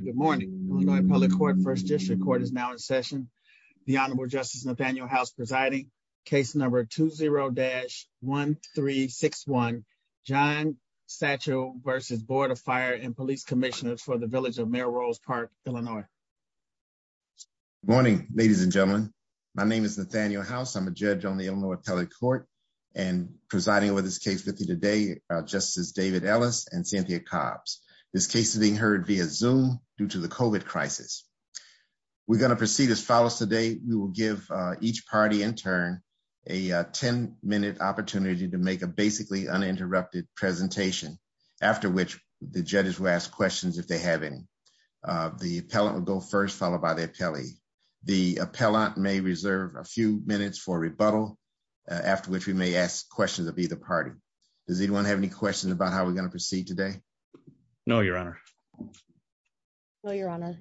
Good morning Illinois public court first district court is now in session. The Honorable Justice Nathaniel House presiding. Case number 20-1361 John Satchell v. Board of Fire and Police Commissioners for the Village of Melrose Park, Illinois. Good morning ladies and gentlemen. My name is Nathaniel House. I'm a judge on the Illinois public court and presiding over this case. My colleagues David Ellis and Cynthia Cobbs. This case is being heard via Zoom due to the COVID crisis. We're going to proceed as follows today. We will give each party in turn a 10-minute opportunity to make a basically uninterrupted presentation after which the judges will ask questions if they have any. The appellant will go first followed by the appellee. The appellant may reserve a few minutes for rebuttal after which we may ask questions of either party. Does anyone have any questions about how we're going to proceed today? No your honor. No your honor.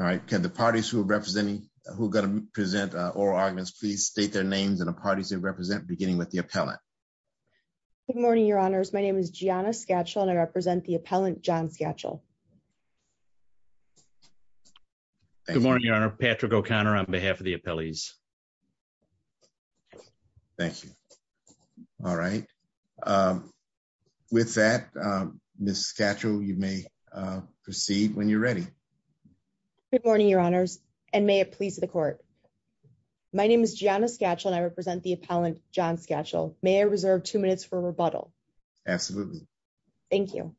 All right can the parties who are representing who are going to present oral arguments please state their names and the parties they represent beginning with the appellant. Good morning your honors my name is Gianna Satchell and I represent the appellant John Satchell. Good morning your honor Patrick O'Connor on behalf of the appellees. Thank you. All right with that Ms. Satchell you may proceed when you're ready. Good morning your honors and may it please the court. My name is Gianna Satchell and I represent the appellant John Satchell. May I reserve two minutes for rebuttal? Absolutely. Thank you.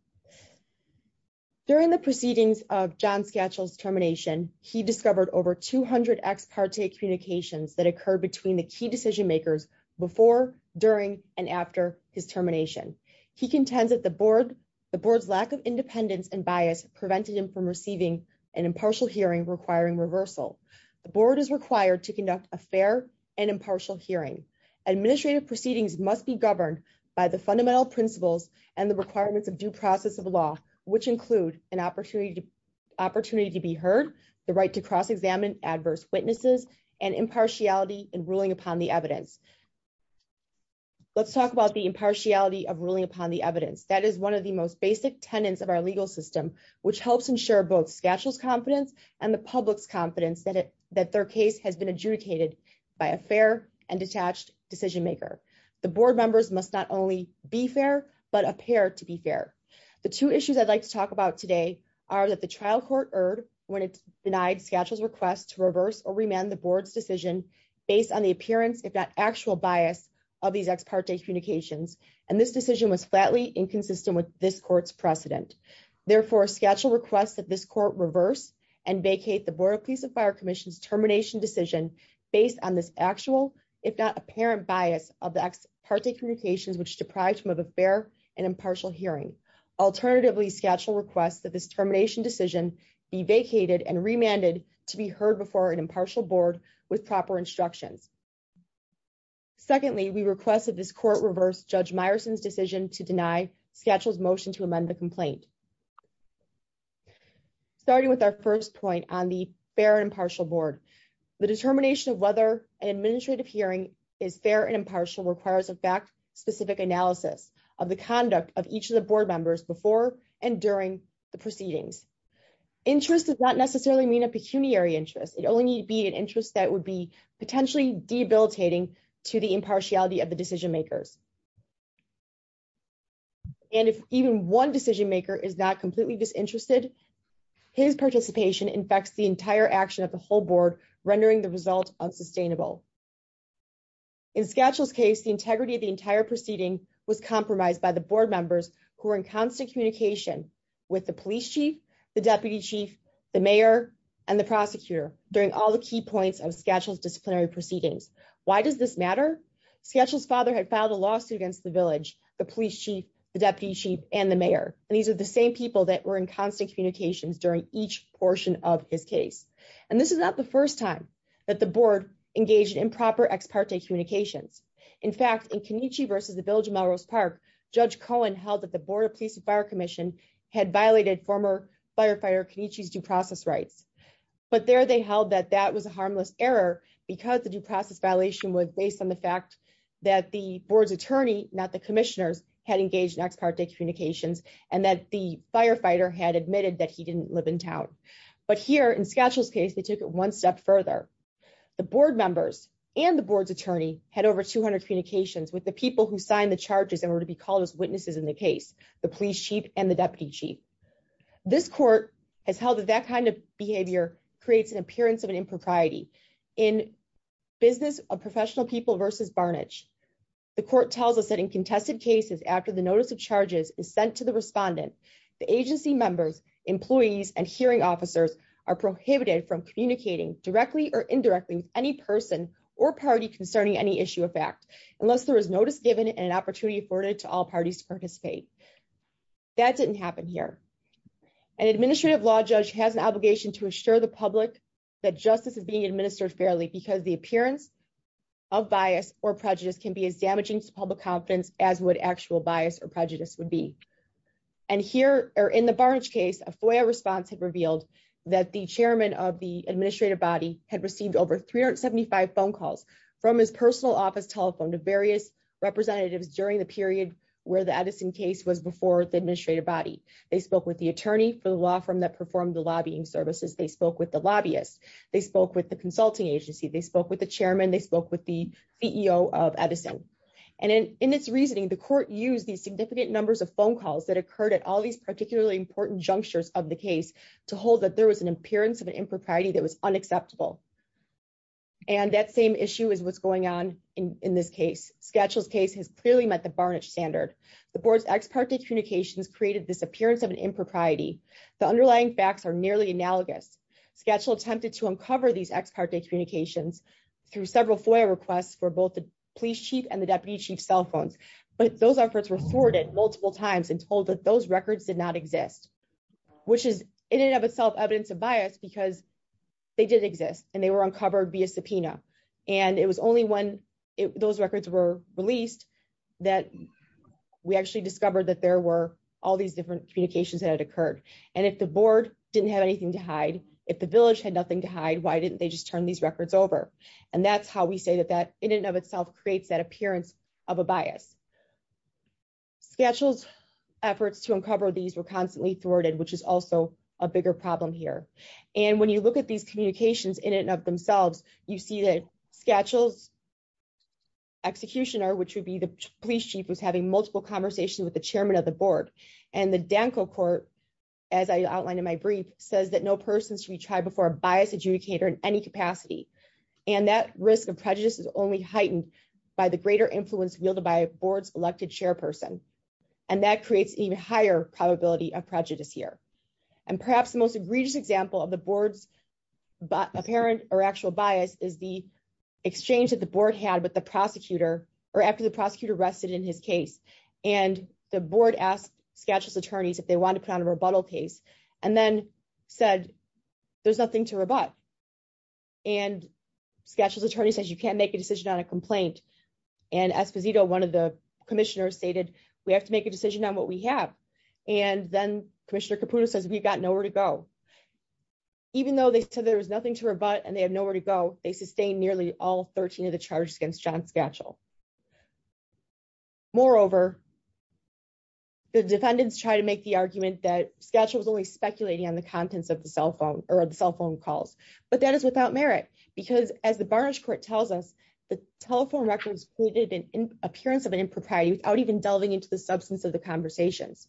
During the proceedings of John Satchell's termination he discovered over 200 ex parte communications that occurred between the key decision makers before during and after his termination. He contends that the board the board's lack of independence and bias prevented him from receiving an impartial hearing requiring reversal. The board is required to conduct a fair and impartial hearing. Administrative proceedings must be governed by the fundamental principles and the requirements of due process of law which include an opportunity opportunity to be heard, the right to cross-examine adverse witnesses, and impartiality in ruling upon the evidence. Let's talk about the impartiality of ruling upon the evidence. That is one of the most basic tenets of our legal system which helps ensure both Satchell's confidence and the public's confidence that it that their case has been adjudicated by a fair and detached decision maker. The board members must not only be fair but appear to be fair. The two issues I'd like to talk about today are that the trial court erred when it denied Satchell's request to reverse or remand the board's decision based on the appearance if not actual bias of these ex parte communications and this decision was flatly inconsistent with this court's precedent. Therefore, Satchell requests that this court reverse and vacate the board of police and fire commission's termination decision based on this actual if not apparent bias of the ex parte communications which deprived him of a fair and impartial hearing. Alternatively, Satchell requests that this termination decision be vacated and remanded to be heard before an impartial board with proper instructions. Secondly, we request that this court reverse Judge Meyerson's decision to deny Satchell's motion to amend the complaint. Starting with our first point on the fair and impartial board, the determination of whether an administrative hearing is fair and impartial requires a fact-specific analysis of the conduct of each of the board members before and during the proceedings. Interest does not necessarily mean a pecuniary interest. It only need be an interest that would be potentially debilitating to the impartiality of the decision makers. And if even one decision maker is not completely disinterested, his participation infects the entire action of the whole board rendering the result unsustainable. In Satchell's case, the integrity of the entire proceeding was compromised by the board members who were in constant communication with the police chief, the deputy chief, the mayor, and the prosecutor during all the key points of Satchell's disciplinary proceedings. Why does this matter? Satchell's father had filed a lawsuit against the village, the police chief, the deputy chief, and the mayor. And these are the same people that were in constant communications during each portion of his case. And this is not the first time that the board engaged in improper ex parte communications. In fact, in Kenichi versus the village of Melrose Park, Judge Cohen held that the board of police and fire commission had violated former firefighter Kenichi's due process rights. But there they held that that was a harmless error because the due process violation was based on the fact that the board's attorney, not the commissioners, had engaged in ex parte communications and that the firefighter had admitted that he didn't live in town. But here in Satchell's case, they took it one step further. The board members and the board's attorney had over 200 communications with the people who signed the charges and were to be called as witnesses in the case, the police chief and the deputy chief. This court has held that that kind of behavior creates an appearance of an impropriety in business of professional people versus barnage. The court tells us that in contested cases after the notice of charges is sent to the respondent, the agency members, employees and hearing officers are prohibited from communicating directly or indirectly with any person or party concerning any issue of fact unless there is notice given and an opportunity afforded to all parties to participate. That didn't happen here. An administrative law judge has an obligation to assure the public that justice is being administered fairly because the appearance of bias or prejudice can be as damaging to public confidence as would actual bias or prejudice would be. And here are in the barnage case, a FOIA response had revealed that the chairman of the administrative body had received over 375 phone calls from his personal office telephone to various representatives during the period where the Edison case was before the administrative body. They spoke with the attorney for the law firm that performed the lobbying services. They spoke with the lobbyist. They spoke with the consulting agency. They spoke with the chairman. They spoke with the CEO of Edison. And in this reasoning, the court used these significant numbers of phone calls that occurred at all these particularly important junctures of the case to hold that there was an appearance of an impropriety that was unacceptable. And that same issue is what's going on in this case. Sketchel's case has clearly met the barnage standard. The board's ex parte communications created this appearance of an impropriety. The underlying facts are nearly analogous. Sketchel attempted to uncover these ex parte communications through several FOIA requests for both the police chief and the deputy chief cell phones. But those efforts were thwarted multiple times and told that those records did not exist, which is in and of itself evidence of bias because they did exist and they were uncovered via subpoena. And it was only when those records were released that we actually discovered that there were all these different communications that had occurred. And if the board didn't have anything to why didn't they just turn these records over? And that's how we say that that in and of itself creates that appearance of a bias. Sketchel's efforts to uncover these were constantly thwarted, which is also a bigger problem here. And when you look at these communications in and of themselves, you see that Sketchel's executioner, which would be the police chief, was having multiple conversations with the chairman of the board. And the Danco court, as I outlined in my brief, says that no person should be tried before a bias adjudicator in any capacity. And that risk of prejudice is only heightened by the greater influence wielded by a board's elected chairperson. And that creates even higher probability of prejudice here. And perhaps the most egregious example of the board's apparent or actual bias is the exchange that the board had with the prosecutor or after the prosecutor rested in his case. And the board asked Sketchel's said, there's nothing to rebut. And Sketchel's attorney says you can't make a decision on a complaint. And Esposito, one of the commissioners stated, we have to make a decision on what we have. And then Commissioner Caputo says we've got nowhere to go. Even though they said there was nothing to rebut, and they have nowhere to go, they sustained nearly all 13 of the charges against John Sketchel. Moreover, the defendants try to make the argument that Sketchel was only on the contents of the cell phone or the cell phone calls. But that is without merit, because as the Barnish court tells us, the telephone records created an appearance of an impropriety without even delving into the substance of the conversations.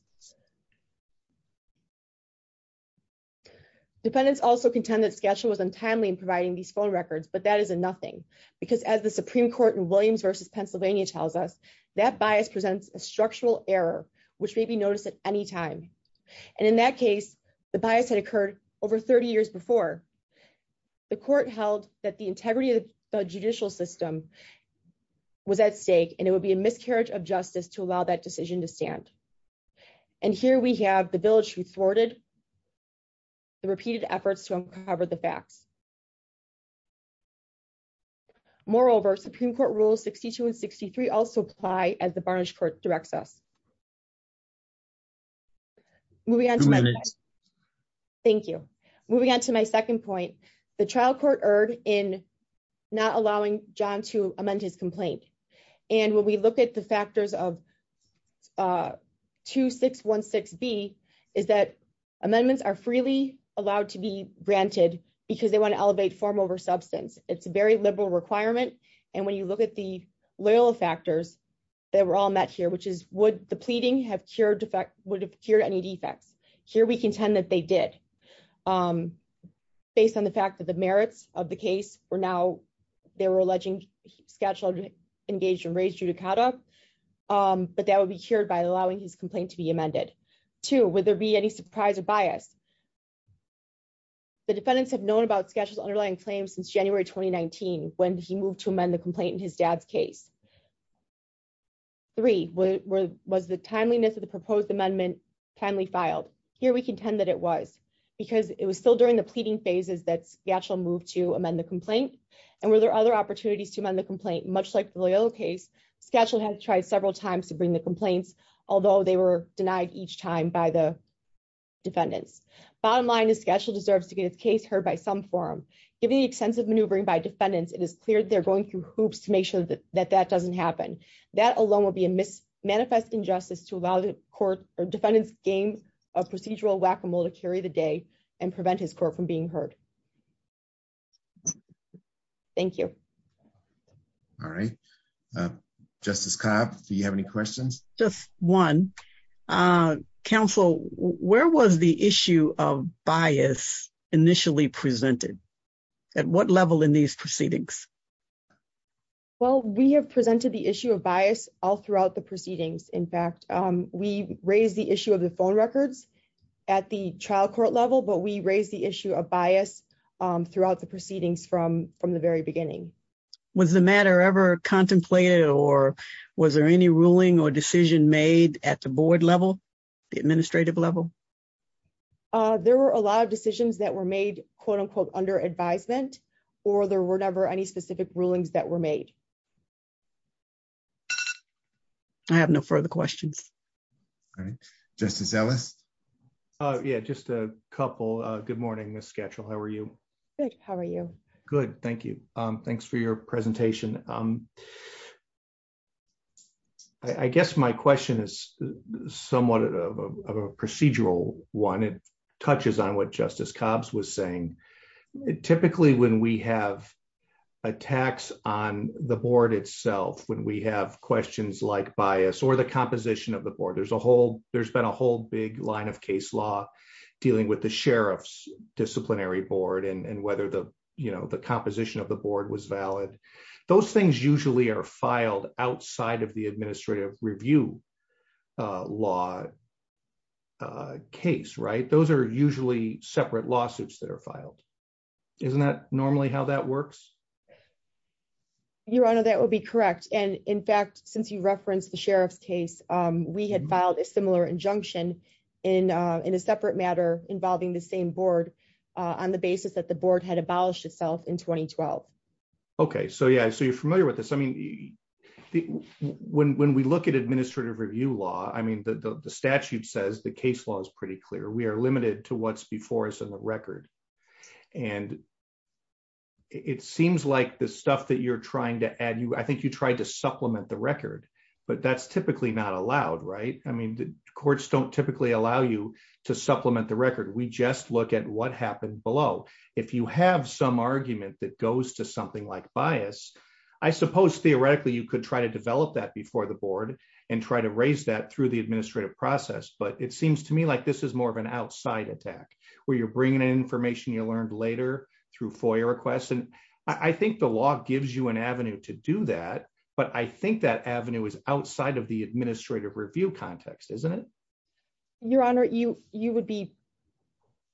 Defendants also contend that Sketchel was untimely in providing these phone records, but that is a nothing. Because as the Supreme Court in Williams versus Pennsylvania tells us, that bias presents a structural error, which may be noticed at any time. And in that case, the bias had occurred over 30 years before. The court held that the integrity of the judicial system was at stake, and it would be a miscarriage of justice to allow that decision to stand. And here we have the village who thwarted the repeated efforts to uncover the facts. Moreover, Supreme Court Rules 62 and 63 also apply as the Barnish court directs us. Moving on to my second point, the trial court erred in not allowing John to amend his complaint. And when we look at the factors of 2616B, is that amendments are freely allowed to be granted because they want to elevate form over substance. It's a very liberal requirement. And when you look at the loyal factors that were all met here, which is would the pleading would have cured any defects? Here we contend that they did. Based on the fact that the merits of the case were now, they were alleging scatula engaged in raised judicata, but that would be cured by allowing his complaint to be amended. Two, would there be any surprise or bias? The defendants have known about scatula underlying claims since January 2019, when he moved to amend the complaint in his dad's case. Three, was the timeliness of the proposed amendment timely filed? Here we contend that it was because it was still during the pleading phases that scatula moved to amend the complaint. And were there other opportunities to amend the complaint? Much like the loyal case, scatula has tried several times to bring the complaints, although they were denied each time by the defendants. Bottom line is scatula deserves to get its case heard by some forum. Given the extensive maneuvering by defendants, it is clear they're going through hoops to make that doesn't happen. That alone would be a manifest injustice to allow the court or defendants game of procedural whack-a-mole to carry the day and prevent his court from being heard. Thank you. All right. Justice Cobb, do you have any questions? Just one. Counsel, where was the the issue of bias all throughout the proceedings? In fact, we raised the issue of the phone records at the trial court level, but we raised the issue of bias throughout the proceedings from the very beginning. Was the matter ever contemplated or was there any ruling or decision made at the board level, the administrative level? There were a lot of decisions that were made, quote unquote, under advisement, or there were never any specific rulings that were made. I have no further questions. All right. Justice Ellis. Yeah, just a couple. Good morning, Ms. Schatchel. How are you? Good. How are you? Good. Thank you. Thanks for your presentation. I guess my question is somewhat of a procedural one. It touches on what Justice Cobbs was saying. Typically, when we have attacks on the board itself, when we have questions like bias or the composition of the board, there's been a whole big line of case law dealing with the sheriff's disciplinary board and whether the composition of the board was valid. Those things usually are filed outside of the administrative review law case. Those are usually separate lawsuits that are filed. Isn't that normally how that works? Your Honor, that would be correct. In fact, since you referenced the sheriff's case, we had filed a similar injunction in a separate matter involving the same board on the basis that the board had abolished itself in 2012. Okay. Yeah. You're familiar with this. Yeah. When we look at administrative review law, the statute says the case law is pretty clear. We are limited to what's before us in the record. It seems like the stuff that you're trying to add, I think you tried to supplement the record, but that's typically not allowed, right? Courts don't typically allow you to supplement the record. We just look at what happened below. If you have some argument that goes to something like bias, I suppose theoretically you could try to develop that before the board and try to raise that through the administrative process, but it seems to me like this is more of an outside attack where you're bringing in information you learned later through FOIA requests. I think the law gives you an avenue to do that, but I think that avenue is outside of the administrative review context, isn't it? Your Honor, you would be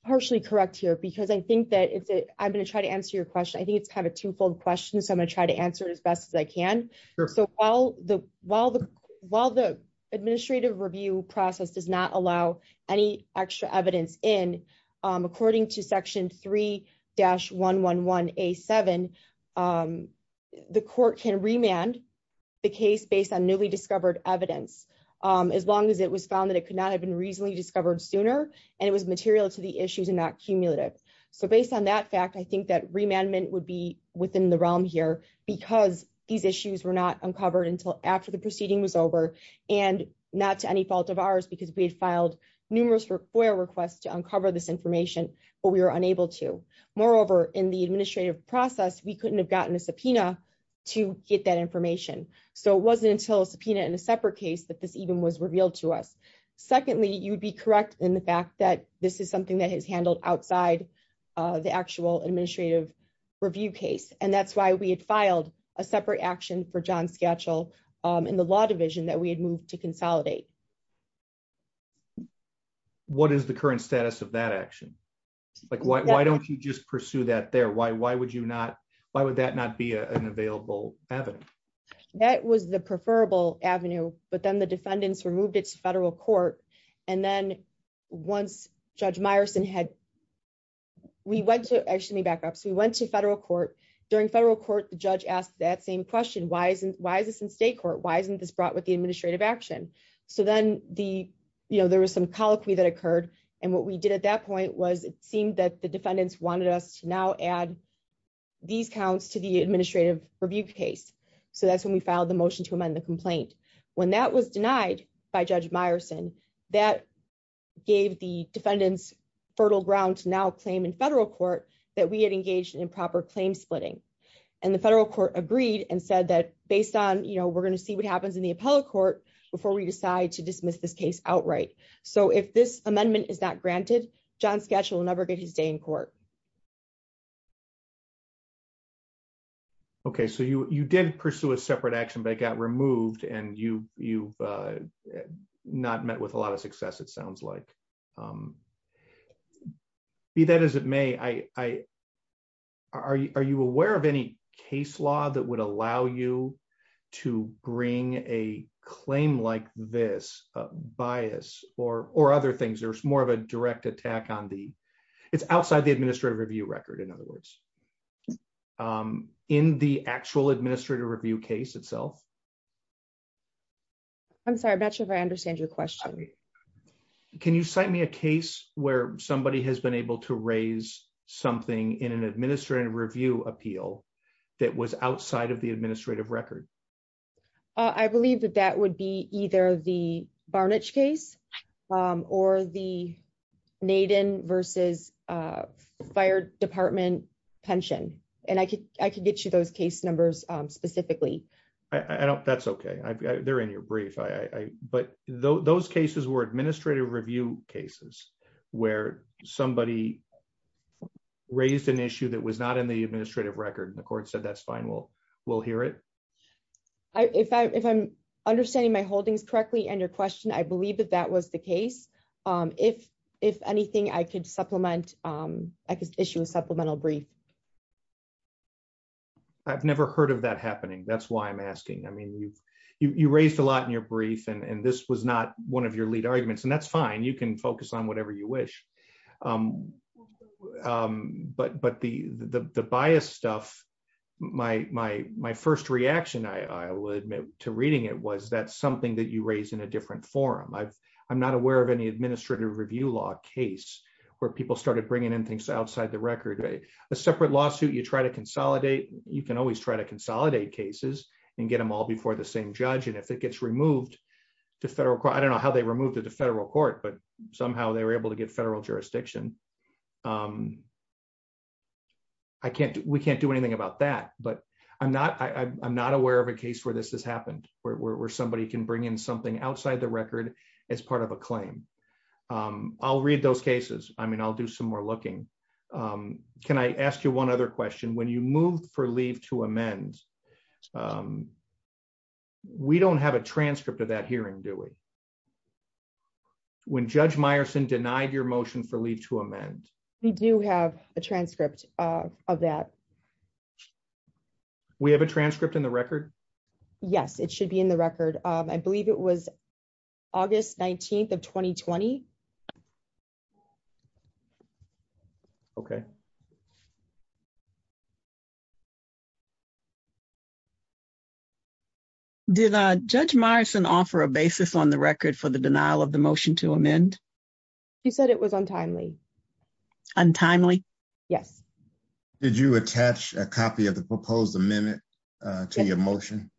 partially correct here because I think that I'm going to try to answer your question. I think it's kind of a twofold question, so I'm going to try to answer it as best as I can. While the administrative review process does not allow any extra evidence in, according to section 3-111A7, the court can remand the case based on newly discovered evidence as long as it was found that could not have been recently discovered sooner and it was material to the issues and not cumulative. Based on that fact, I think that remandment would be within the realm here because these issues were not uncovered until after the proceeding was over and not to any fault of ours because we had filed numerous FOIA requests to uncover this information, but we were unable to. Moreover, in the administrative process, we couldn't have gotten a subpoena to get that information, so it wasn't until a subpoena in a separate case that this even was revealed to us. Secondly, you'd be correct in the fact that this is something that is handled outside the actual administrative review case, and that's why we had filed a separate action for John Skatchel in the law division that we had moved to consolidate. What is the current status of that action? Why don't you just pursue that there? Why would that not be an available avenue? That was the preferable avenue, but then the defendants removed it to federal court. We went to federal court. During federal court, the judge asked that same question, why isn't this in state court? Why isn't this brought with the administrative action? There was some colloquy that occurred, and what we did at that point was it seemed that the defendants wanted us to now add these counts to the administrative review case, so that's when we filed the motion to amend the complaint. When that was denied by Judge Meyerson, that gave the defendants fertile ground to now claim in federal court that we had engaged in proper claim splitting, and the federal court agreed and said that based on, you know, we're going to see what happens in the appellate court before we decide to dismiss this case outright. So, if this amendment is not granted, John Sketch will never get his day in court. Okay, so you did pursue a separate action, but it got removed, and you've not met with a lot of success, it sounds like. Be that as it may, are you aware of any case law that would allow you to bring a claim like this, a bias, or other things? There's more of a direct attack on the, it's outside the administrative review record, in other words. In the actual administrative review case itself? I'm sorry, I'm not sure if I understand your question. Can you cite me a case where somebody has been able to raise something in an administrative review appeal that was outside of the administrative record? I believe that that would be either the Barnich case or the Naden versus Fire Department pension, and I could get you those case numbers specifically. That's okay, they're in your brief, but those cases were administrative review cases where somebody raised an issue that was not in the administrative record, and the court said that's we'll hear it. If I'm understanding my holdings correctly and your question, I believe that that was the case. If anything, I could issue a supplemental brief. I've never heard of that happening, that's why I'm asking. I mean, you raised a lot in your brief, and this was not one of your lead arguments, and that's fine, you can focus on whatever you wish. But the bias stuff, my first reaction, I will admit, to reading it was that's something that you raised in a different forum. I'm not aware of any administrative review law case where people started bringing in things outside the record. A separate lawsuit you try to consolidate, you can always try to consolidate cases and get them all before the same judge, and if it gets removed to federal court, I don't know how they removed it to federal court, but somehow they were able to get federal jurisdiction. We can't do anything about that, but I'm not aware of a case where this has happened, where somebody can bring in something outside the record as part of a claim. I'll read those cases. I mean, I'll do some more looking. Can I ask you one other question? When you move for leave to amend, we don't have a transcript of that hearing, do we? When Judge Meyerson denied your motion for leave to amend. We do have a transcript of that. We have a transcript in the record? Yes, it should be in the record. I believe it was August 19th of 2020. Okay. Did Judge Meyerson offer a basis on the record for the denial of the motion to amend? She said it was untimely. Untimely? Yes. Did you attach a copy of the proposed amendment to your motion?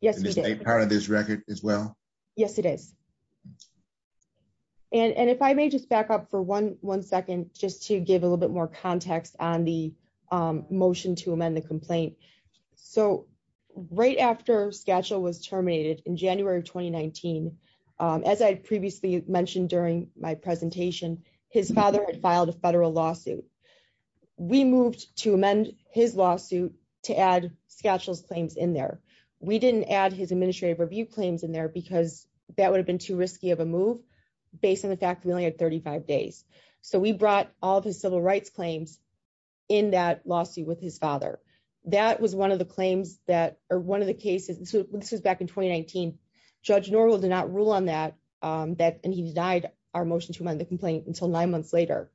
Yes, we did. Is that part of this record as well? Yes, it is. Okay. And if I may just back up for one second just to give a little bit more context on the motion to amend the complaint. So, right after Skatchel was terminated in January of 2019, as I previously mentioned during my presentation, his father had filed a federal lawsuit. We moved to amend his lawsuit to add Skatchel's claims in there. We didn't add his administrative review claims in there because that would have been too risky of a move based on the fact we only had 35 days. So, we brought all of his civil rights claims in that lawsuit with his father. That was one of the claims that, or one of the cases, this was back in 2019, Judge Norwell did not rule on that, and he denied our motion to amend the complaint until nine months later.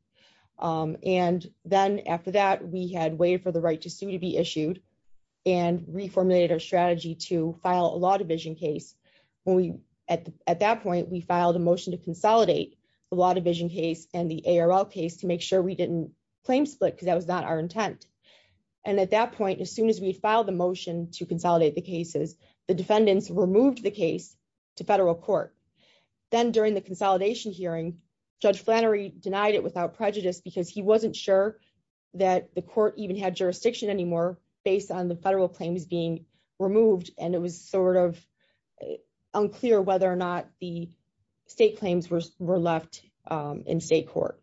And then after that, we had waited for the right to sue to be issued and reformulated our strategy to file a law division case. At that point, we filed a motion to consolidate the law division case and the ARL case to make sure we didn't claim split because that was not our intent. And at that point, as soon as we filed the motion to consolidate the cases, the defendants removed the case to federal court. Then during the consolidation hearing, Judge Flannery denied it without prejudice because he wasn't sure that the court even had jurisdiction anymore based on the federal claims being removed. And it was sort of unclear whether or not the state claims were left in state court.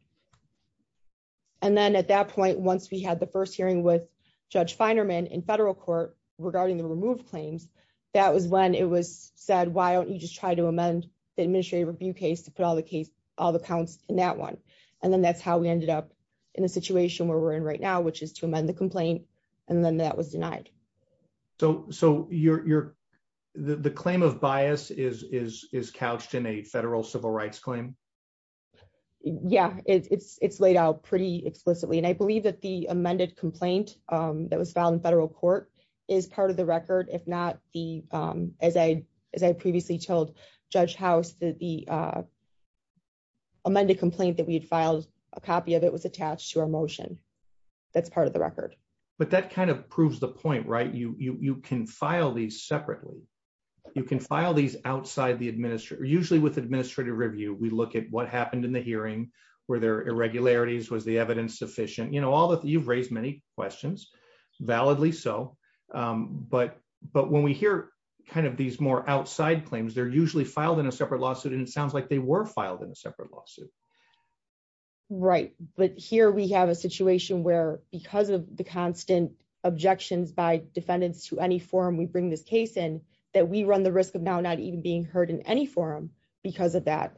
And then at that point, once we had the first hearing with Judge Feinerman in federal court regarding the removed claims, that was when it was said, why don't you just try to amend the administrative review case to put all the counts in that one? And then that's how we ended up in a situation where we're in right now, which is to amend the complaint. And then that was denied. So the claim of bias is couched in a federal civil rights claim? Yeah, it's laid out pretty explicitly. And I believe that the amended complaint that was filed in federal court is part of the record. If not, as I previously told Judge House, the amended complaint that we had filed a copy of it was attached to our motion. That's part of the record. But that kind of proves the point, right? You can file these separately. You can file these outside the administrator, usually with administrative review. We look at what happened in the hearing, were there irregularities, was the evidence sufficient? You've raised many questions, validly so. But when we hear kind of these more outside claims, they're usually filed in a separate lawsuit and it sounds like they were filed in a separate lawsuit. Right. But here we have a situation where because of the constant objections by defendants to any forum we bring this case in, that we run the risk of now not even being heard in any forum because of that.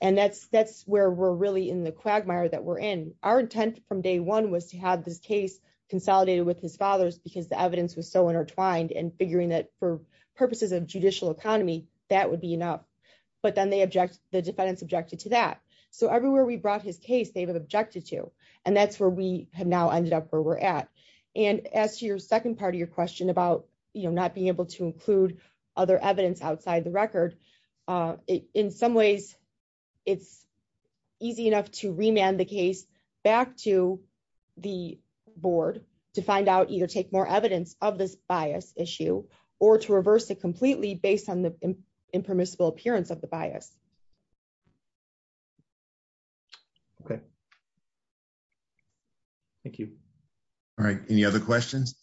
And that's where we're really in the quagmire that we're in. Our intent from day one was to have this case consolidated with his father's because the evidence was so intertwined and figuring that for purposes of judicial economy, that would be enough. But then the defendants objected to that. So everywhere we brought his case, they've objected to. And that's where we have now ended up where we're at. And as to your second part of your question about not being able to include other evidence outside the record, in some ways, it's easy enough to remand the case back to the board to find out, either take more evidence of this bias issue or to reverse it completely based on the impermissible appearance of the bias. Okay. Thank you. All right. Any other questions?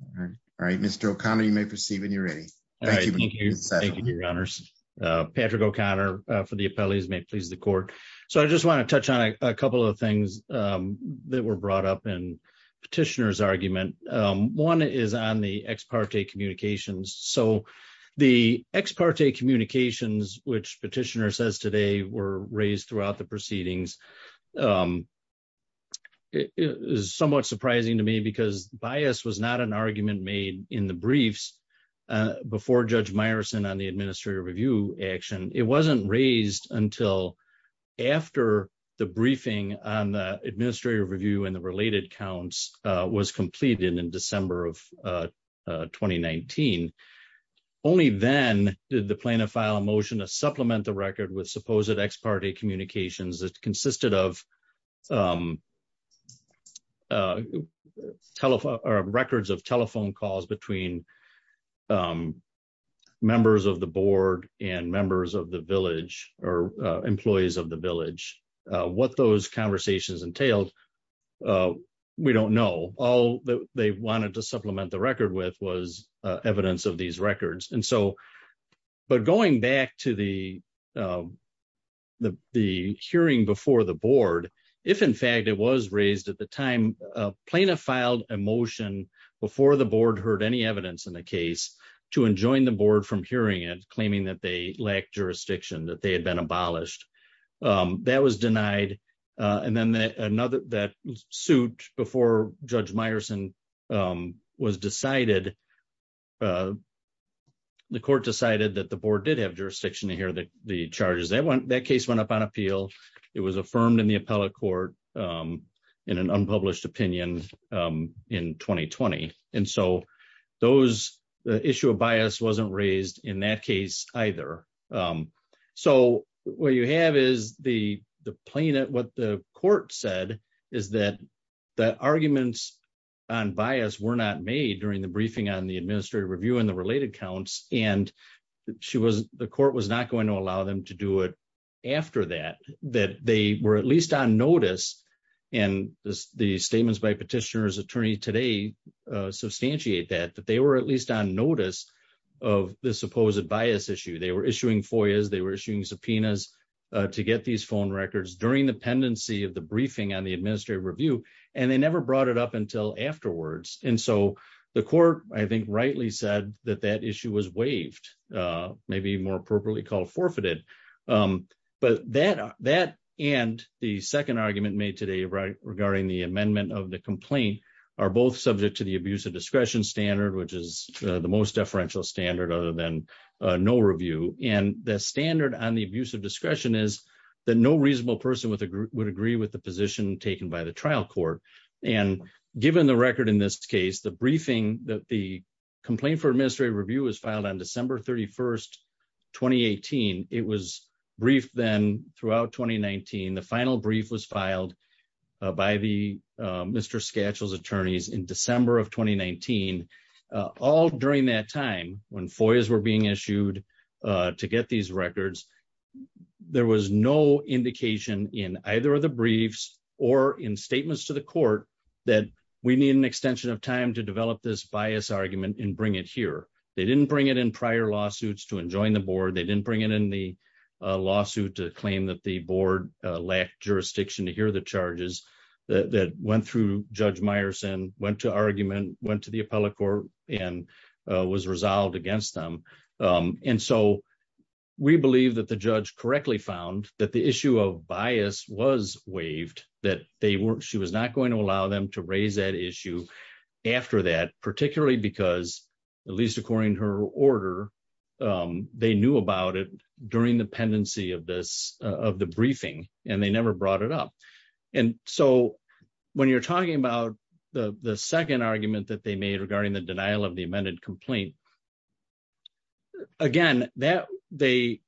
All right. All right. Mr. O'Connor, you may proceed when you're ready. Thank you. Thank you, your honors. Patrick O'Connor for the appellees may please the court. So I just want to touch on a couple of things that were brought up in petitioner's argument. One is on the ex parte communications. So the ex parte communications, which petitioner says today were raised throughout the proceedings is somewhat surprising to me because bias was not an argument made in the briefs before Judge administrative review and the related counts was completed in December of 2019. Only then did the plaintiff file a motion to supplement the record with supposed ex parte communications that consisted of records of telephone calls between members of the board and members of the village or employees of the village. What those conversations entailed, we don't know. All that they wanted to supplement the record with was evidence of these records. And so, but going back to the hearing before the board, if in fact it was raised at the time, plaintiff filed a motion before the board heard any evidence in the case to enjoin the board from hearing it, claiming that they lacked jurisdiction, that they had been abolished. That was denied. And then that suit before Judge Meyerson was decided, the court decided that the board did have jurisdiction to hear the charges. That case went up on appeal. It was affirmed in the appellate court in an unpublished opinion in 2020. And so those, the issue of bias wasn't raised in that case either. So what you have is the plaintiff, what the court said is that the arguments on bias were not made during the briefing on the administrative review and the related counts. And she was, the court was not going to allow them to do it after that, that they were at least on notice. And the statements by petitioner's attorney today substantiate that, that they were at least on notice of the supposed bias issue. They were issuing FOIAs, they were issuing subpoenas to get these phone records during the pendency of the briefing on the administrative review, and they never brought it up until afterwards. And so the court, I think rightly said that that issue was waived, maybe more appropriately called forfeited. But that, that and the second argument made today regarding the amendment of the complaint are both subject to the abuse of discretion standard, which is the most deferential standard other than no review. And the standard on the abuse of discretion is that no reasonable person would agree with the position taken by the trial court. And given the record in this case, the briefing that the complaint for administrative by the Mr. Skatchel's attorneys in December of 2019, all during that time when FOIAs were being issued to get these records, there was no indication in either of the briefs or in statements to the court that we need an extension of time to develop this bias argument and bring it here. They didn't bring it in prior lawsuits to enjoin the board. They didn't bring it in the last jurisdiction to hear the charges that went through Judge Meyerson, went to argument, went to the appellate court and was resolved against them. And so we believe that the judge correctly found that the issue of bias was waived, that they weren't, she was not going to allow them to raise that issue after that, particularly because at least according to her order, they knew about it during the pendency of the briefing and they never brought it up. And so when you're talking about the second argument that they made regarding the denial of the amended complaint, again, the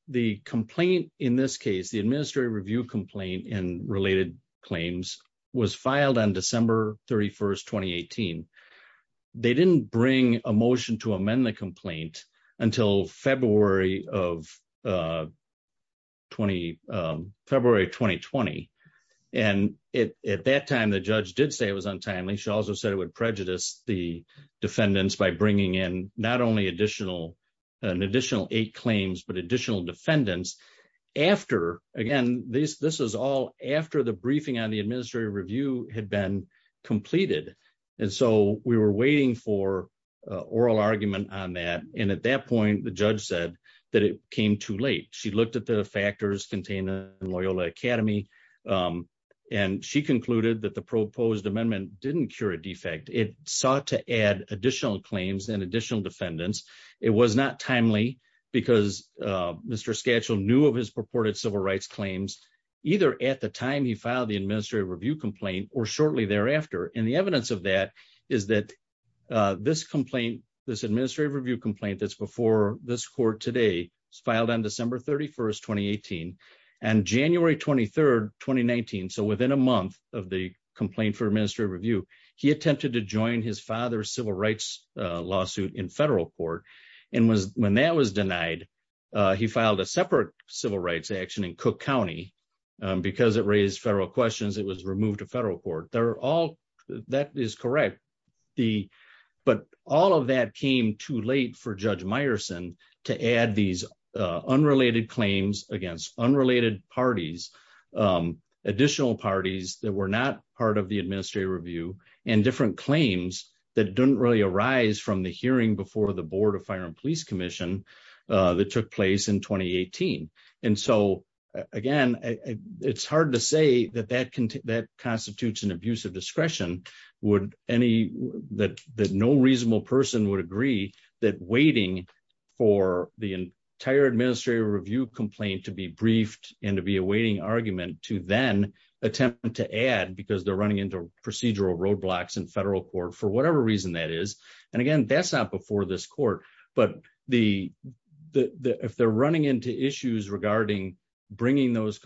complaint in this case, the administrative review complaint and related claims was filed on December 31st, 2018. They didn't bring a motion to amend the February of 2020. And at that time, the judge did say it was untimely. She also said it would prejudice the defendants by bringing in not only an additional eight claims, but additional defendants after, again, this is all after the briefing on the administrative review had been completed. And so we were waiting for a oral argument on that. And at that point, the judge said that it came too late. She looked at the factors contained in Loyola Academy. And she concluded that the proposed amendment didn't cure a defect. It sought to add additional claims and additional defendants. It was not timely because Mr. Skatchel knew of his purported civil rights claims, either at the time he filed the administrative review complaint or shortly thereafter. And the evidence of that is that this complaint, this administrative review complaint that's before this court today is filed on December 31st, 2018 and January 23rd, 2019. So within a month of the complaint for administrative review, he attempted to join his father's civil rights lawsuit in federal court. And when that was denied, he filed a separate civil rights action in Cook County. Because it raised federal questions, it was removed to federal court. That is correct. But all of that came too late for Judge Meyerson to add these unrelated claims against unrelated parties, additional parties that were not part of the administrative review and different claims that didn't really arise from the hearing before the Board of Fire and Police Commission that took place in 2018. And so, again, it's hard to say that that constitutes an abuse of discretion, that no reasonable person would agree that waiting for the entire administrative review complaint to be briefed and to be a waiting argument to then attempt to add because they're running into procedural roadblocks in federal court for whatever reason that is. And again, that's not before this court. But if they're running into issues regarding bringing those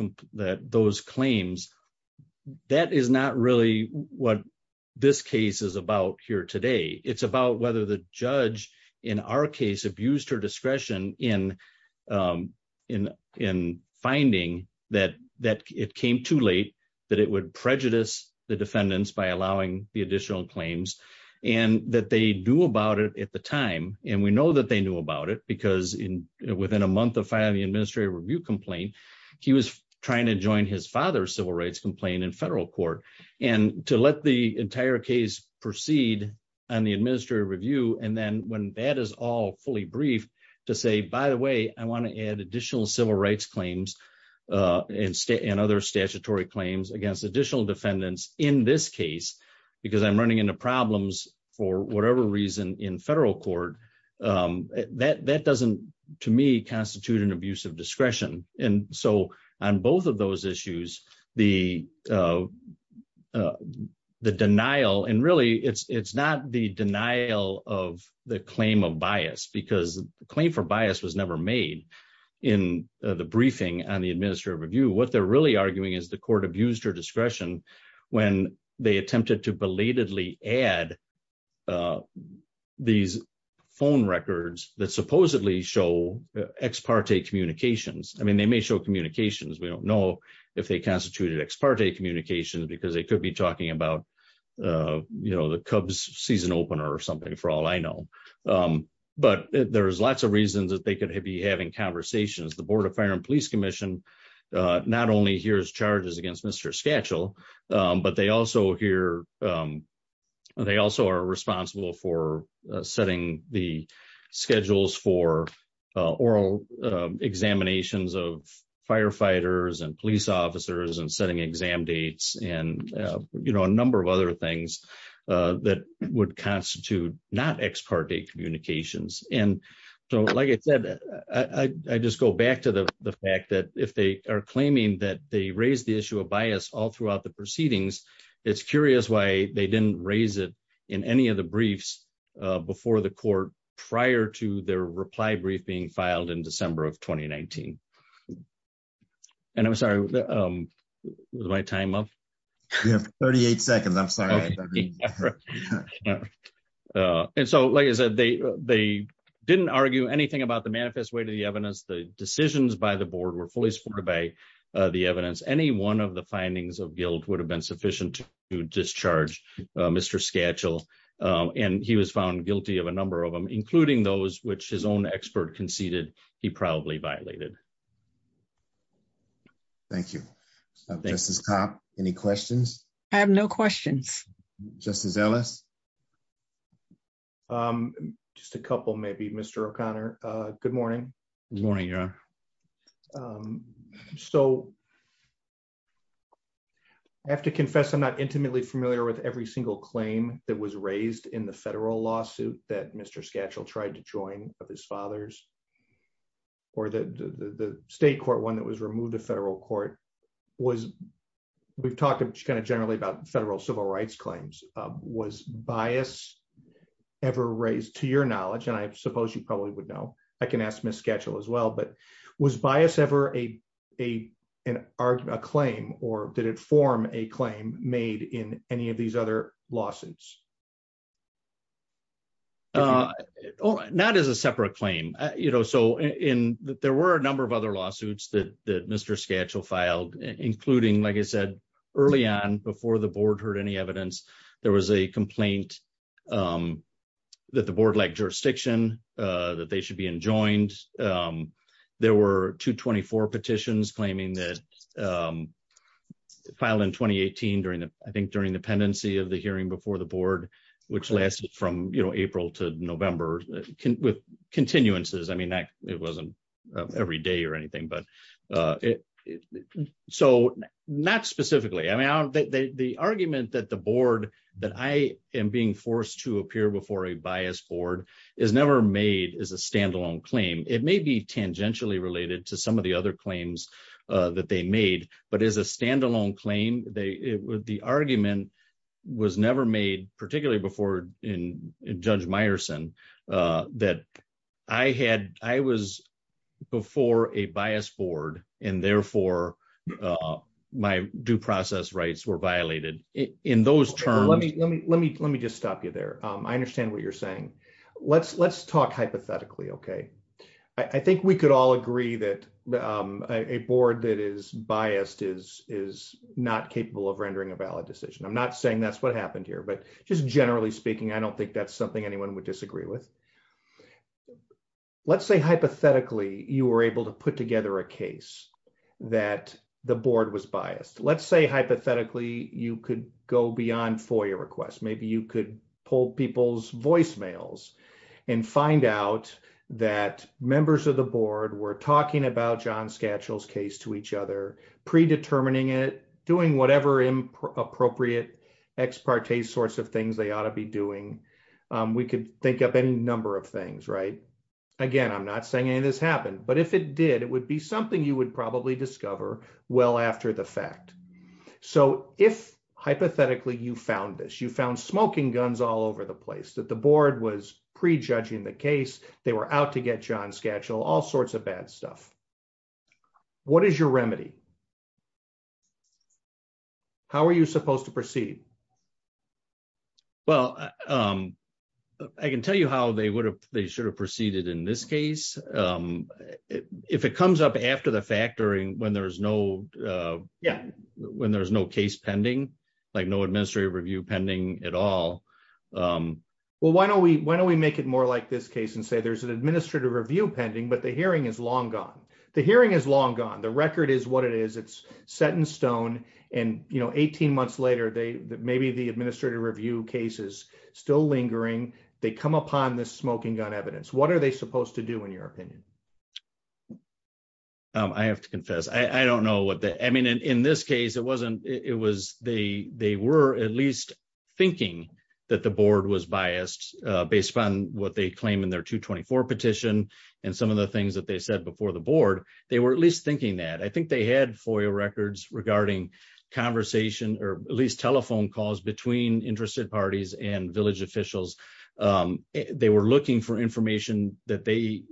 claims, that is not really what this case is about here today. It's about whether the judge in our case abused her discretion in finding that it came too late, that it would prejudice the defendants by allowing the additional claims, and that they do about it at the time. And we know that they knew about it because within a month of filing the administrative review complaint, he was trying to join his father's civil rights complaint in federal court. And to let the entire case proceed on the administrative review, and then when that is all fully briefed, to say, by the way, I want to add additional civil rights claims and other statutory claims against additional defendants in this case, because I'm running into problems for whatever reason in federal court, that doesn't, to me, constitute an abuse of discretion. And so on both of those issues, the denial, and really, it's not the denial of the claim of bias, because the claim for bias was never made in the briefing on the administrative review. What they're really arguing is the court abused her discretion when they attempted to belatedly add these phone records that supposedly show ex parte communications. I mean, they may show communications. We don't know if they constituted ex parte communications, because they could be talking about, you know, the Cubs season opener or something, for all I know. But there's lots of reasons that they could be having conversations. The Board of Fire and Police Commission, not only hears charges against Mr. Skatchel, but they also hear, they also are responsible for setting the schedules for oral examinations of firefighters and police officers and setting exam dates and, you know, a number of other things that would constitute not ex parte communications. And so, like I said, I just go back to the fact that if they are claiming that they raised the issue of bias all throughout the proceedings, it's curious why they didn't raise it in any of the briefs before the court, prior to their reply brief being filed in December of 2019. And I'm sorry, was my time up? You have 38 seconds. I'm sorry. All right. And so, like I said, they didn't argue anything about the manifest way to the evidence. The decisions by the board were fully supported by the evidence. Any one of the findings of guilt would have been sufficient to discharge Mr. Skatchel. And he was found guilty of a number of them, including those which his own expert conceded he probably violated. Thank you. Justice Copp, any questions? I have no questions. Justice Ellis? Just a couple, maybe, Mr. O'Connor. Good morning. Good morning, Your Honor. So, I have to confess I'm not intimately familiar with every single claim that was raised in the federal lawsuit that Mr. Skatchel tried to join of his father's or the state court one that was generally about federal civil rights claims. Was bias ever raised, to your knowledge, and I suppose you probably would know, I can ask Ms. Skatchel as well, but was bias ever a claim or did it form a claim made in any of these other lawsuits? Not as a separate claim. So, there were a number of other lawsuits that Mr. Skatchel filed, including, like I said, early on before the board heard any evidence, there was a complaint that the board lacked jurisdiction, that they should be enjoined. There were 224 petitions claiming that filed in 2018, I think during the pendency of the hearing before the board, which lasted from April to November with continuances. I mean, it wasn't every day but not specifically. I mean, the argument that the board, that I am being forced to appear before a biased board is never made as a standalone claim. It may be tangentially related to some of the other claims that they made, but as a standalone claim, the argument was never made, particularly before Judge Meyerson, that I was before a biased board and therefore my due process rights were violated in those terms. Let me just stop you there. I understand what you're saying. Let's talk hypothetically, okay? I think we could all agree that a board that is biased is not capable of rendering a valid decision. I'm not saying that's what happened here, but just generally speaking, I don't think that's something anyone would disagree with. Let's say hypothetically, you were able to put together a case that the board was biased. Let's say hypothetically, you could go beyond FOIA requests. Maybe you could pull people's voicemails and find out that members of the board were talking about John Skatchel's case to each other, predetermining it, doing whatever appropriate ex parte sorts of things they ought to be doing. We could think of any number of things, right? Again, I'm not saying any of this happened, but if it did, it would be something you would probably discover well after the fact. So if hypothetically you found this, you found smoking guns all over the place, that the board was prejudging the case, they were out to get John Skatchel, all sorts of bad stuff. What is your remedy? How are you supposed to proceed? Well, I can tell you how they should have proceeded in this case. If it comes up after the fact, when there's no case pending, like no administrative review pending at all. Well, why don't we make it more like this case and say there's an administrative review pending, but the hearing is long gone. The hearing is long gone. The record is what it is. It's set in stone. And 18 months later, maybe the administrative review case is still lingering. They come upon this smoking gun evidence. What are they supposed to do in your opinion? I have to confess. I don't know what the, I mean, in this case, it wasn't, it was, they were at least thinking that the board was biased based upon what they claim in their 224 petition and some of the things that they said before the board, they were at least thinking that. I think they had FOIA records regarding conversation or at least telephone calls between interested parties and village officials. They were looking for information that they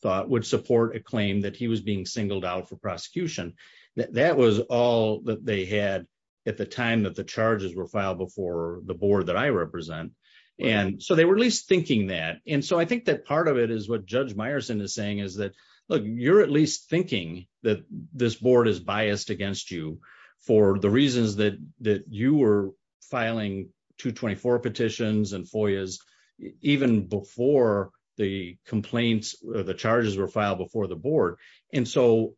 thought would support a claim that he was being singled out for prosecution. That was all that they had at the time that the charges were filed before the board that I represent. And so they were at least thinking that. And so I think that part of it is what Judge Meyerson is saying is that, look, you're at least thinking that this board is biased against you for the reasons that you were filing 224 petitions and FOIAs even before the complaints or the charges were filed before the board. And so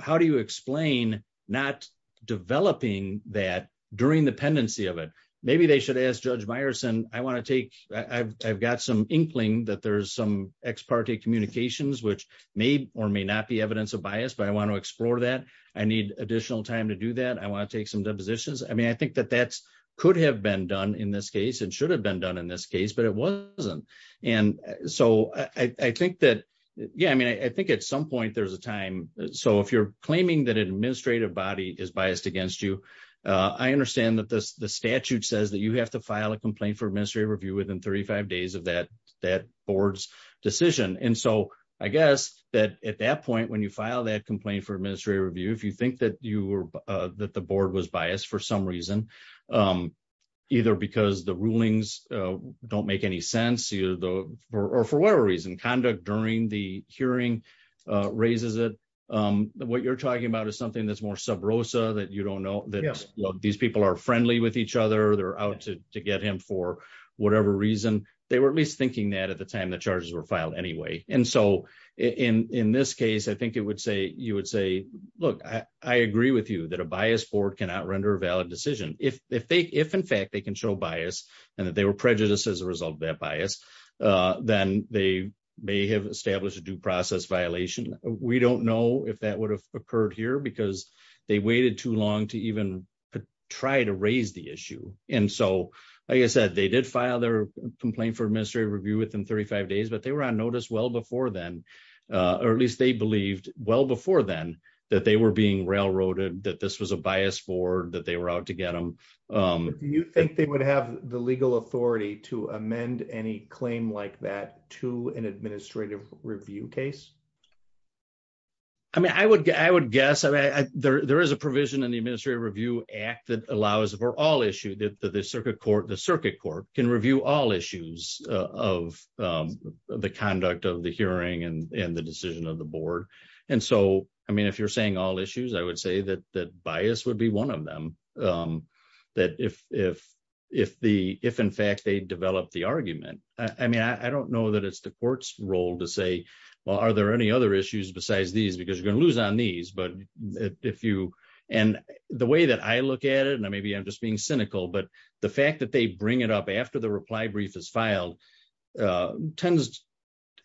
how do you explain not developing that during the pendency of it? Maybe they should ask Judge Meyerson, I want to take, I've got some inkling that there's some ex parte communications, which may or may not be evidence of bias, but I want to explore that. I need additional time to do that. I want to take some depositions. I mean, I think that that could have been done in this case and should have been done in this case, but it wasn't. And so I think that, yeah, I mean, I think at some point there's a time. So if you're claiming that an administrative body is biased against you, I understand that the statute says that you have to file a complaint for administrative review within 35 days of that board's decision. And so I guess that at that point, when you file that complaint for administrative review, if you think that you were, that the board was biased for some reason, either because the rulings don't make any sense or for whatever reason, conduct during the hearing raises it. What you're talking about is something that's more sub rosa that you don't know that these people are friendly with each other. They're out to get him for whatever reason. They were at least thinking that at the time the charges were filed anyway. And so in this case, I think it would say, you would say, look, I agree with you that a bias board cannot render a valid decision. If they, if in fact they can show bias and that they were prejudiced as a process violation. We don't know if that would have occurred here because they waited too long to even try to raise the issue. And so, like I said, they did file their complaint for administrative review within 35 days, but they were on notice well before then, or at least they believed well before then that they were being railroaded, that this was a bias board, that they were out to get them. Do you think they would have the legal authority to amend any claim like that to an case? I mean, I would, I would guess, I mean, there is a provision in the administrative review act that allows for all issue that the circuit court, the circuit court can review all issues of the conduct of the hearing and the decision of the board. And so, I mean, if you're saying all issues, I would say that that bias would be one of them. That if, if, if the, if in fact they there any other issues besides these, because you're going to lose on these, but if you, and the way that I look at it, and maybe I'm just being cynical, but the fact that they bring it up after the reply brief is filed tends,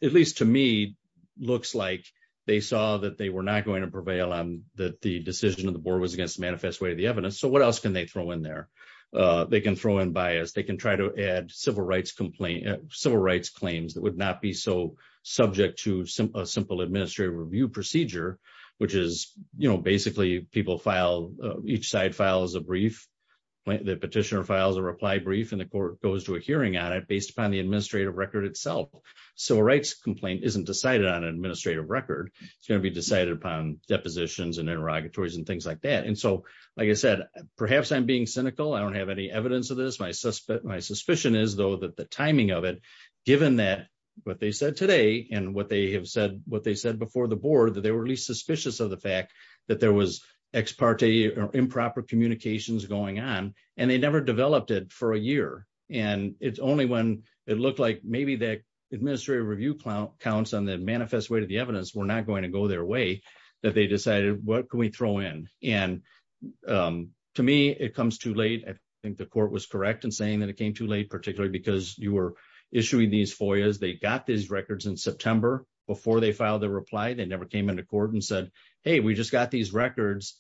at least to me, looks like they saw that they were not going to prevail on that. The decision of the board was against the manifest way of the evidence. So what else can they throw in there? They can throw in bias. They can try to add civil rights complaint, civil rights claims that would not be so subject to simple, a simple administrative review procedure, which is, you know, basically people file, each side files a brief. The petitioner files a reply brief and the court goes to a hearing on it based upon the administrative record itself. Civil rights complaint isn't decided on an administrative record. It's going to be decided upon depositions and interrogatories and things like that. And so, like I said, perhaps I'm being cynical. I don't have any evidence of this. My suspect, my suspicion is though that the timing of it, given that what they said today and what they have said, what they said before the board, that they were at least suspicious of the fact that there was ex parte or improper communications going on, and they never developed it for a year. And it's only when it looked like maybe that administrative review counts on the manifest way to the evidence were not going to go their way that they decided what can we throw in. And to me, it comes too late. I think the court was correct in saying that it came too late, because you were issuing these FOIAs. They got these records in September before they filed their reply. They never came into court and said, hey, we just got these records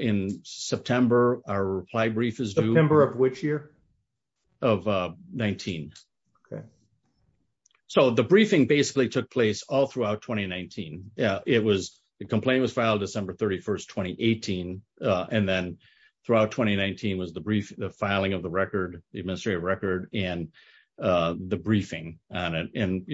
in September. Our reply brief is due. September of which year? Of 19. Okay. So the briefing basically took place all throughout 2019. The complaint was filed December 31st, 2018. And then throughout 2019 was the filing of the administrative record. And the briefing on it. And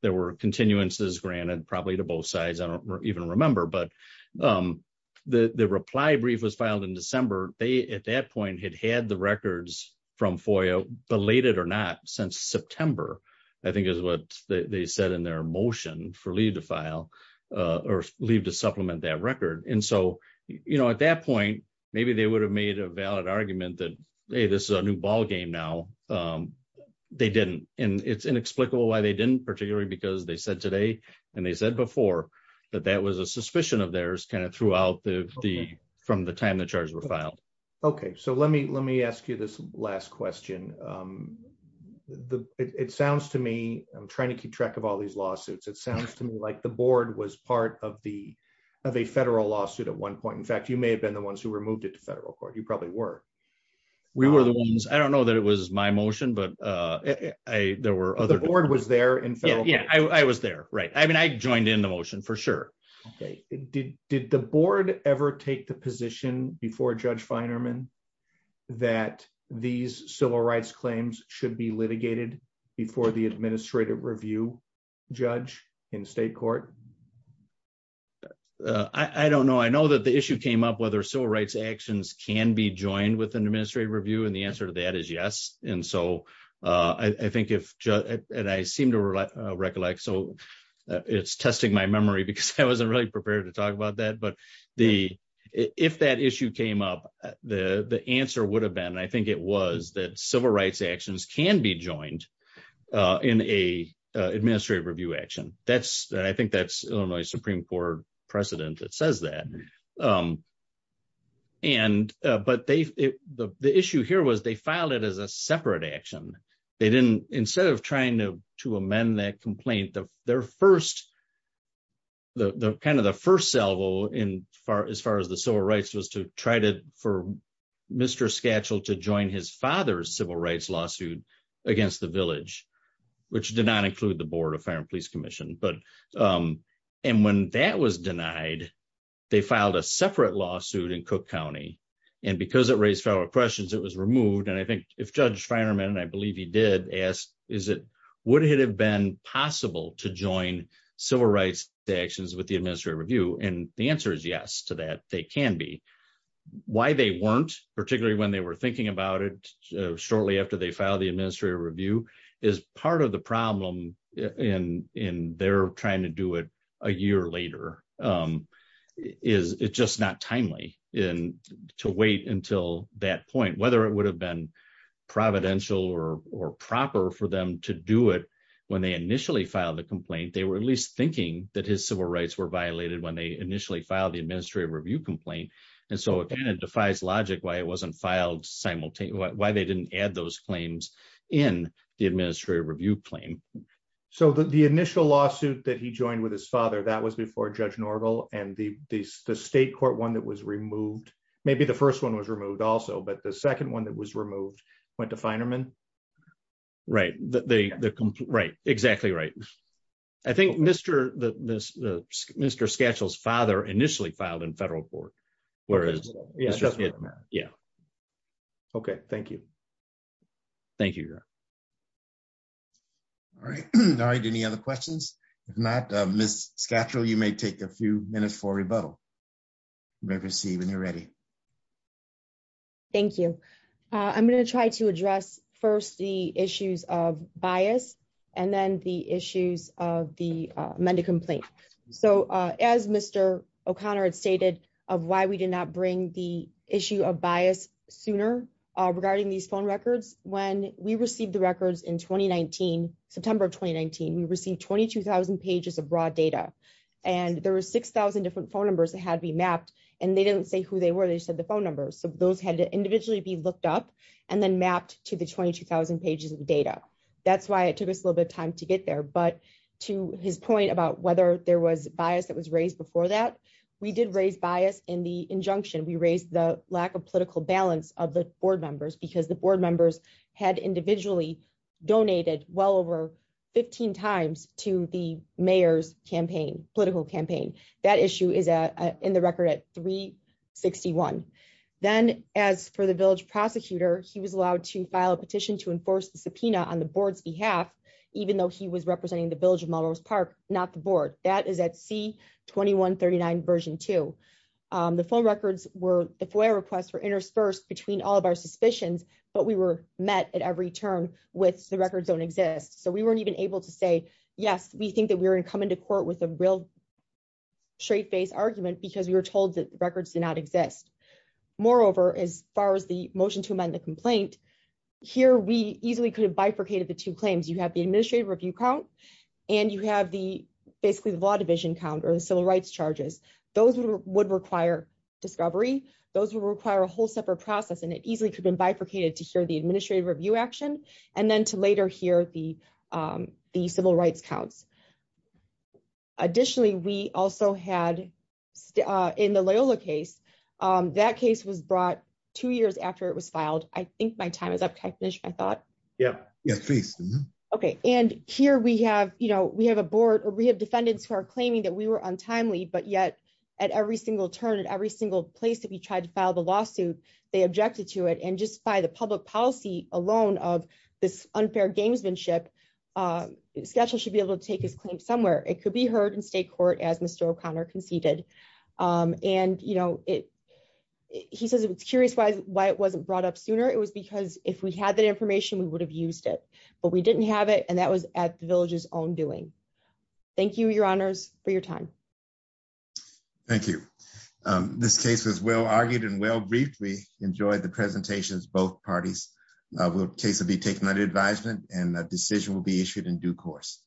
there were continuances granted probably to both sides. I don't even remember. But the reply brief was filed in December. They at that point had had the records from FOIA belated or not since September, I think is what they said in their motion for leave to file or leave to supplement that record. And so at that point, maybe they would have made a valid argument that, hey, this is a new ballgame now. They didn't. And it's inexplicable why they didn't, particularly because they said today, and they said before, that that was a suspicion of theirs kind of throughout the from the time the charges were filed. Okay, so let me let me ask you this last question. It sounds to me, I'm trying to keep track of all these lawsuits, it sounds to me like the board was part of the of a federal lawsuit at one point. In fact, you may have been the ones who removed it to federal court, you probably were. We were the ones I don't know that it was my motion. But I there were other board was there. And yeah, I was there. Right. I mean, I joined in the motion for sure. Okay. Did did the board ever take the position before Judge Finerman that these civil rights claims should be litigated before the administrative review, judge in state court? I don't know. I know that the issue came up whether civil rights actions can be joined with an administrative review. And the answer to that is yes. And so I think if and I seem to recollect, so it's testing my memory, because I wasn't really prepared to talk about that. But the if that issue came up, the the answer would have been I think it was that civil rights actions can be joined in a administrative review action. That's I think that's Illinois Supreme Court precedent that says that. And, but they, the issue here was they filed it as a separate action. They didn't instead of trying to to amend that complaint of their first, the kind of the first salvo in far as far as the civil rights was to try to for Mr. scatchel to join his father's civil rights lawsuit against the village, which did not include the Board of Fire and Police Commission. But and when that was denied, they filed a separate lawsuit in Cook County. And because it raised federal questions, it was removed. And I think if Judge Finerman and I believe he did ask, is it would it have been possible to join civil rights actions with the administrative review? And the answer is yes to that they can be why they weren't particularly when they were thinking about it shortly after they filed the administrative review is part of the problem in in they're trying to do it a year later is it just not timely in to wait until that point, whether it would have been providential or proper for them to do it. When they initially filed the complaint, they were at least thinking that his civil rights were violated when they initially filed administrative review complaint. And so it kind of defies logic why it wasn't filed simultaneously why they didn't add those claims in the administrative review claim. So the initial lawsuit that he joined with his father that was before Judge Norville and the the state court one that was removed, maybe the first one was removed also, but the second one that was removed, went to Finerman. Right, exactly right. I think Mr. Satchel's father initially filed in federal court, whereas... Okay, thank you. Thank you. All right, any other questions? If not, Ms. Satchel, you may take a few minutes for a rebuttal. We'll see when you're ready. Thank you. I'm going to try to address first the issues of bias and then the issues of the amended complaint. So as Mr. O'Connor had stated of why we did not bring the issue of bias sooner regarding these phone records, when we received the records in 2019, September of 2019, we received 22,000 pages of broad data and there were 6,000 different phone numbers that had to be mapped and they didn't say who they were, they said the phone numbers. So those had to individually be looked up and then mapped to the 22,000 pages of data. That's why it took us a little bit of time to get there, but to his point about whether there was bias that was raised before that, we did raise bias in the injunction. We raised the lack of political balance of the board members because the board members had individually donated well over 15 times to the mayor's campaign, political campaign. That issue is in the record at 361. Then as for the village prosecutor, he was allowed to file a petition to enforce the subpoena on the board's behalf, even though he was representing the village of Melrose Park, not the board. That is at C-2139 version two. The phone records were, the FOIA requests were interspersed between all of our suspicions, but we were met at every turn with the records don't exist. So we weren't even able to say, yes, we think that we're going to come into court with a real straight face argument because we were told that records do not exist. Moreover, as far as the motion to amend the complaint, here we easily could have bifurcated the two claims. You have the administrative review count and you have the basically the law division count or the civil rights charges. Those would require discovery. Those would require a whole separate process and it easily could have been bifurcated to hear the administrative review action and then to later hear the civil rights counts. Additionally, we also had in the Loyola case, that case was brought two years after it was filed. I think my time is up, technician, I thought. Yeah. Yeah, please. Okay. And here we have a board or we have defendants who are claiming that we were untimely, but yet at every single turn, at every single place that we tried to file the lawsuit, they objected to it. And just by the public policy alone of this unfair gamesmanship, Sketchel should be able to take his claim somewhere. It could be heard in state court as Mr. O'Connor conceded. And, you know, it, he says it was curious why it wasn't brought up sooner. It was because if we had that information, we would have used it, but we didn't have it. And that was at the village's own doing. Thank you, your honors for your time. Thank you. This case is well-argued and well-briefed. We enjoyed the presentations of both parties. The case will be taken under advisement and a decision will be issued in due course.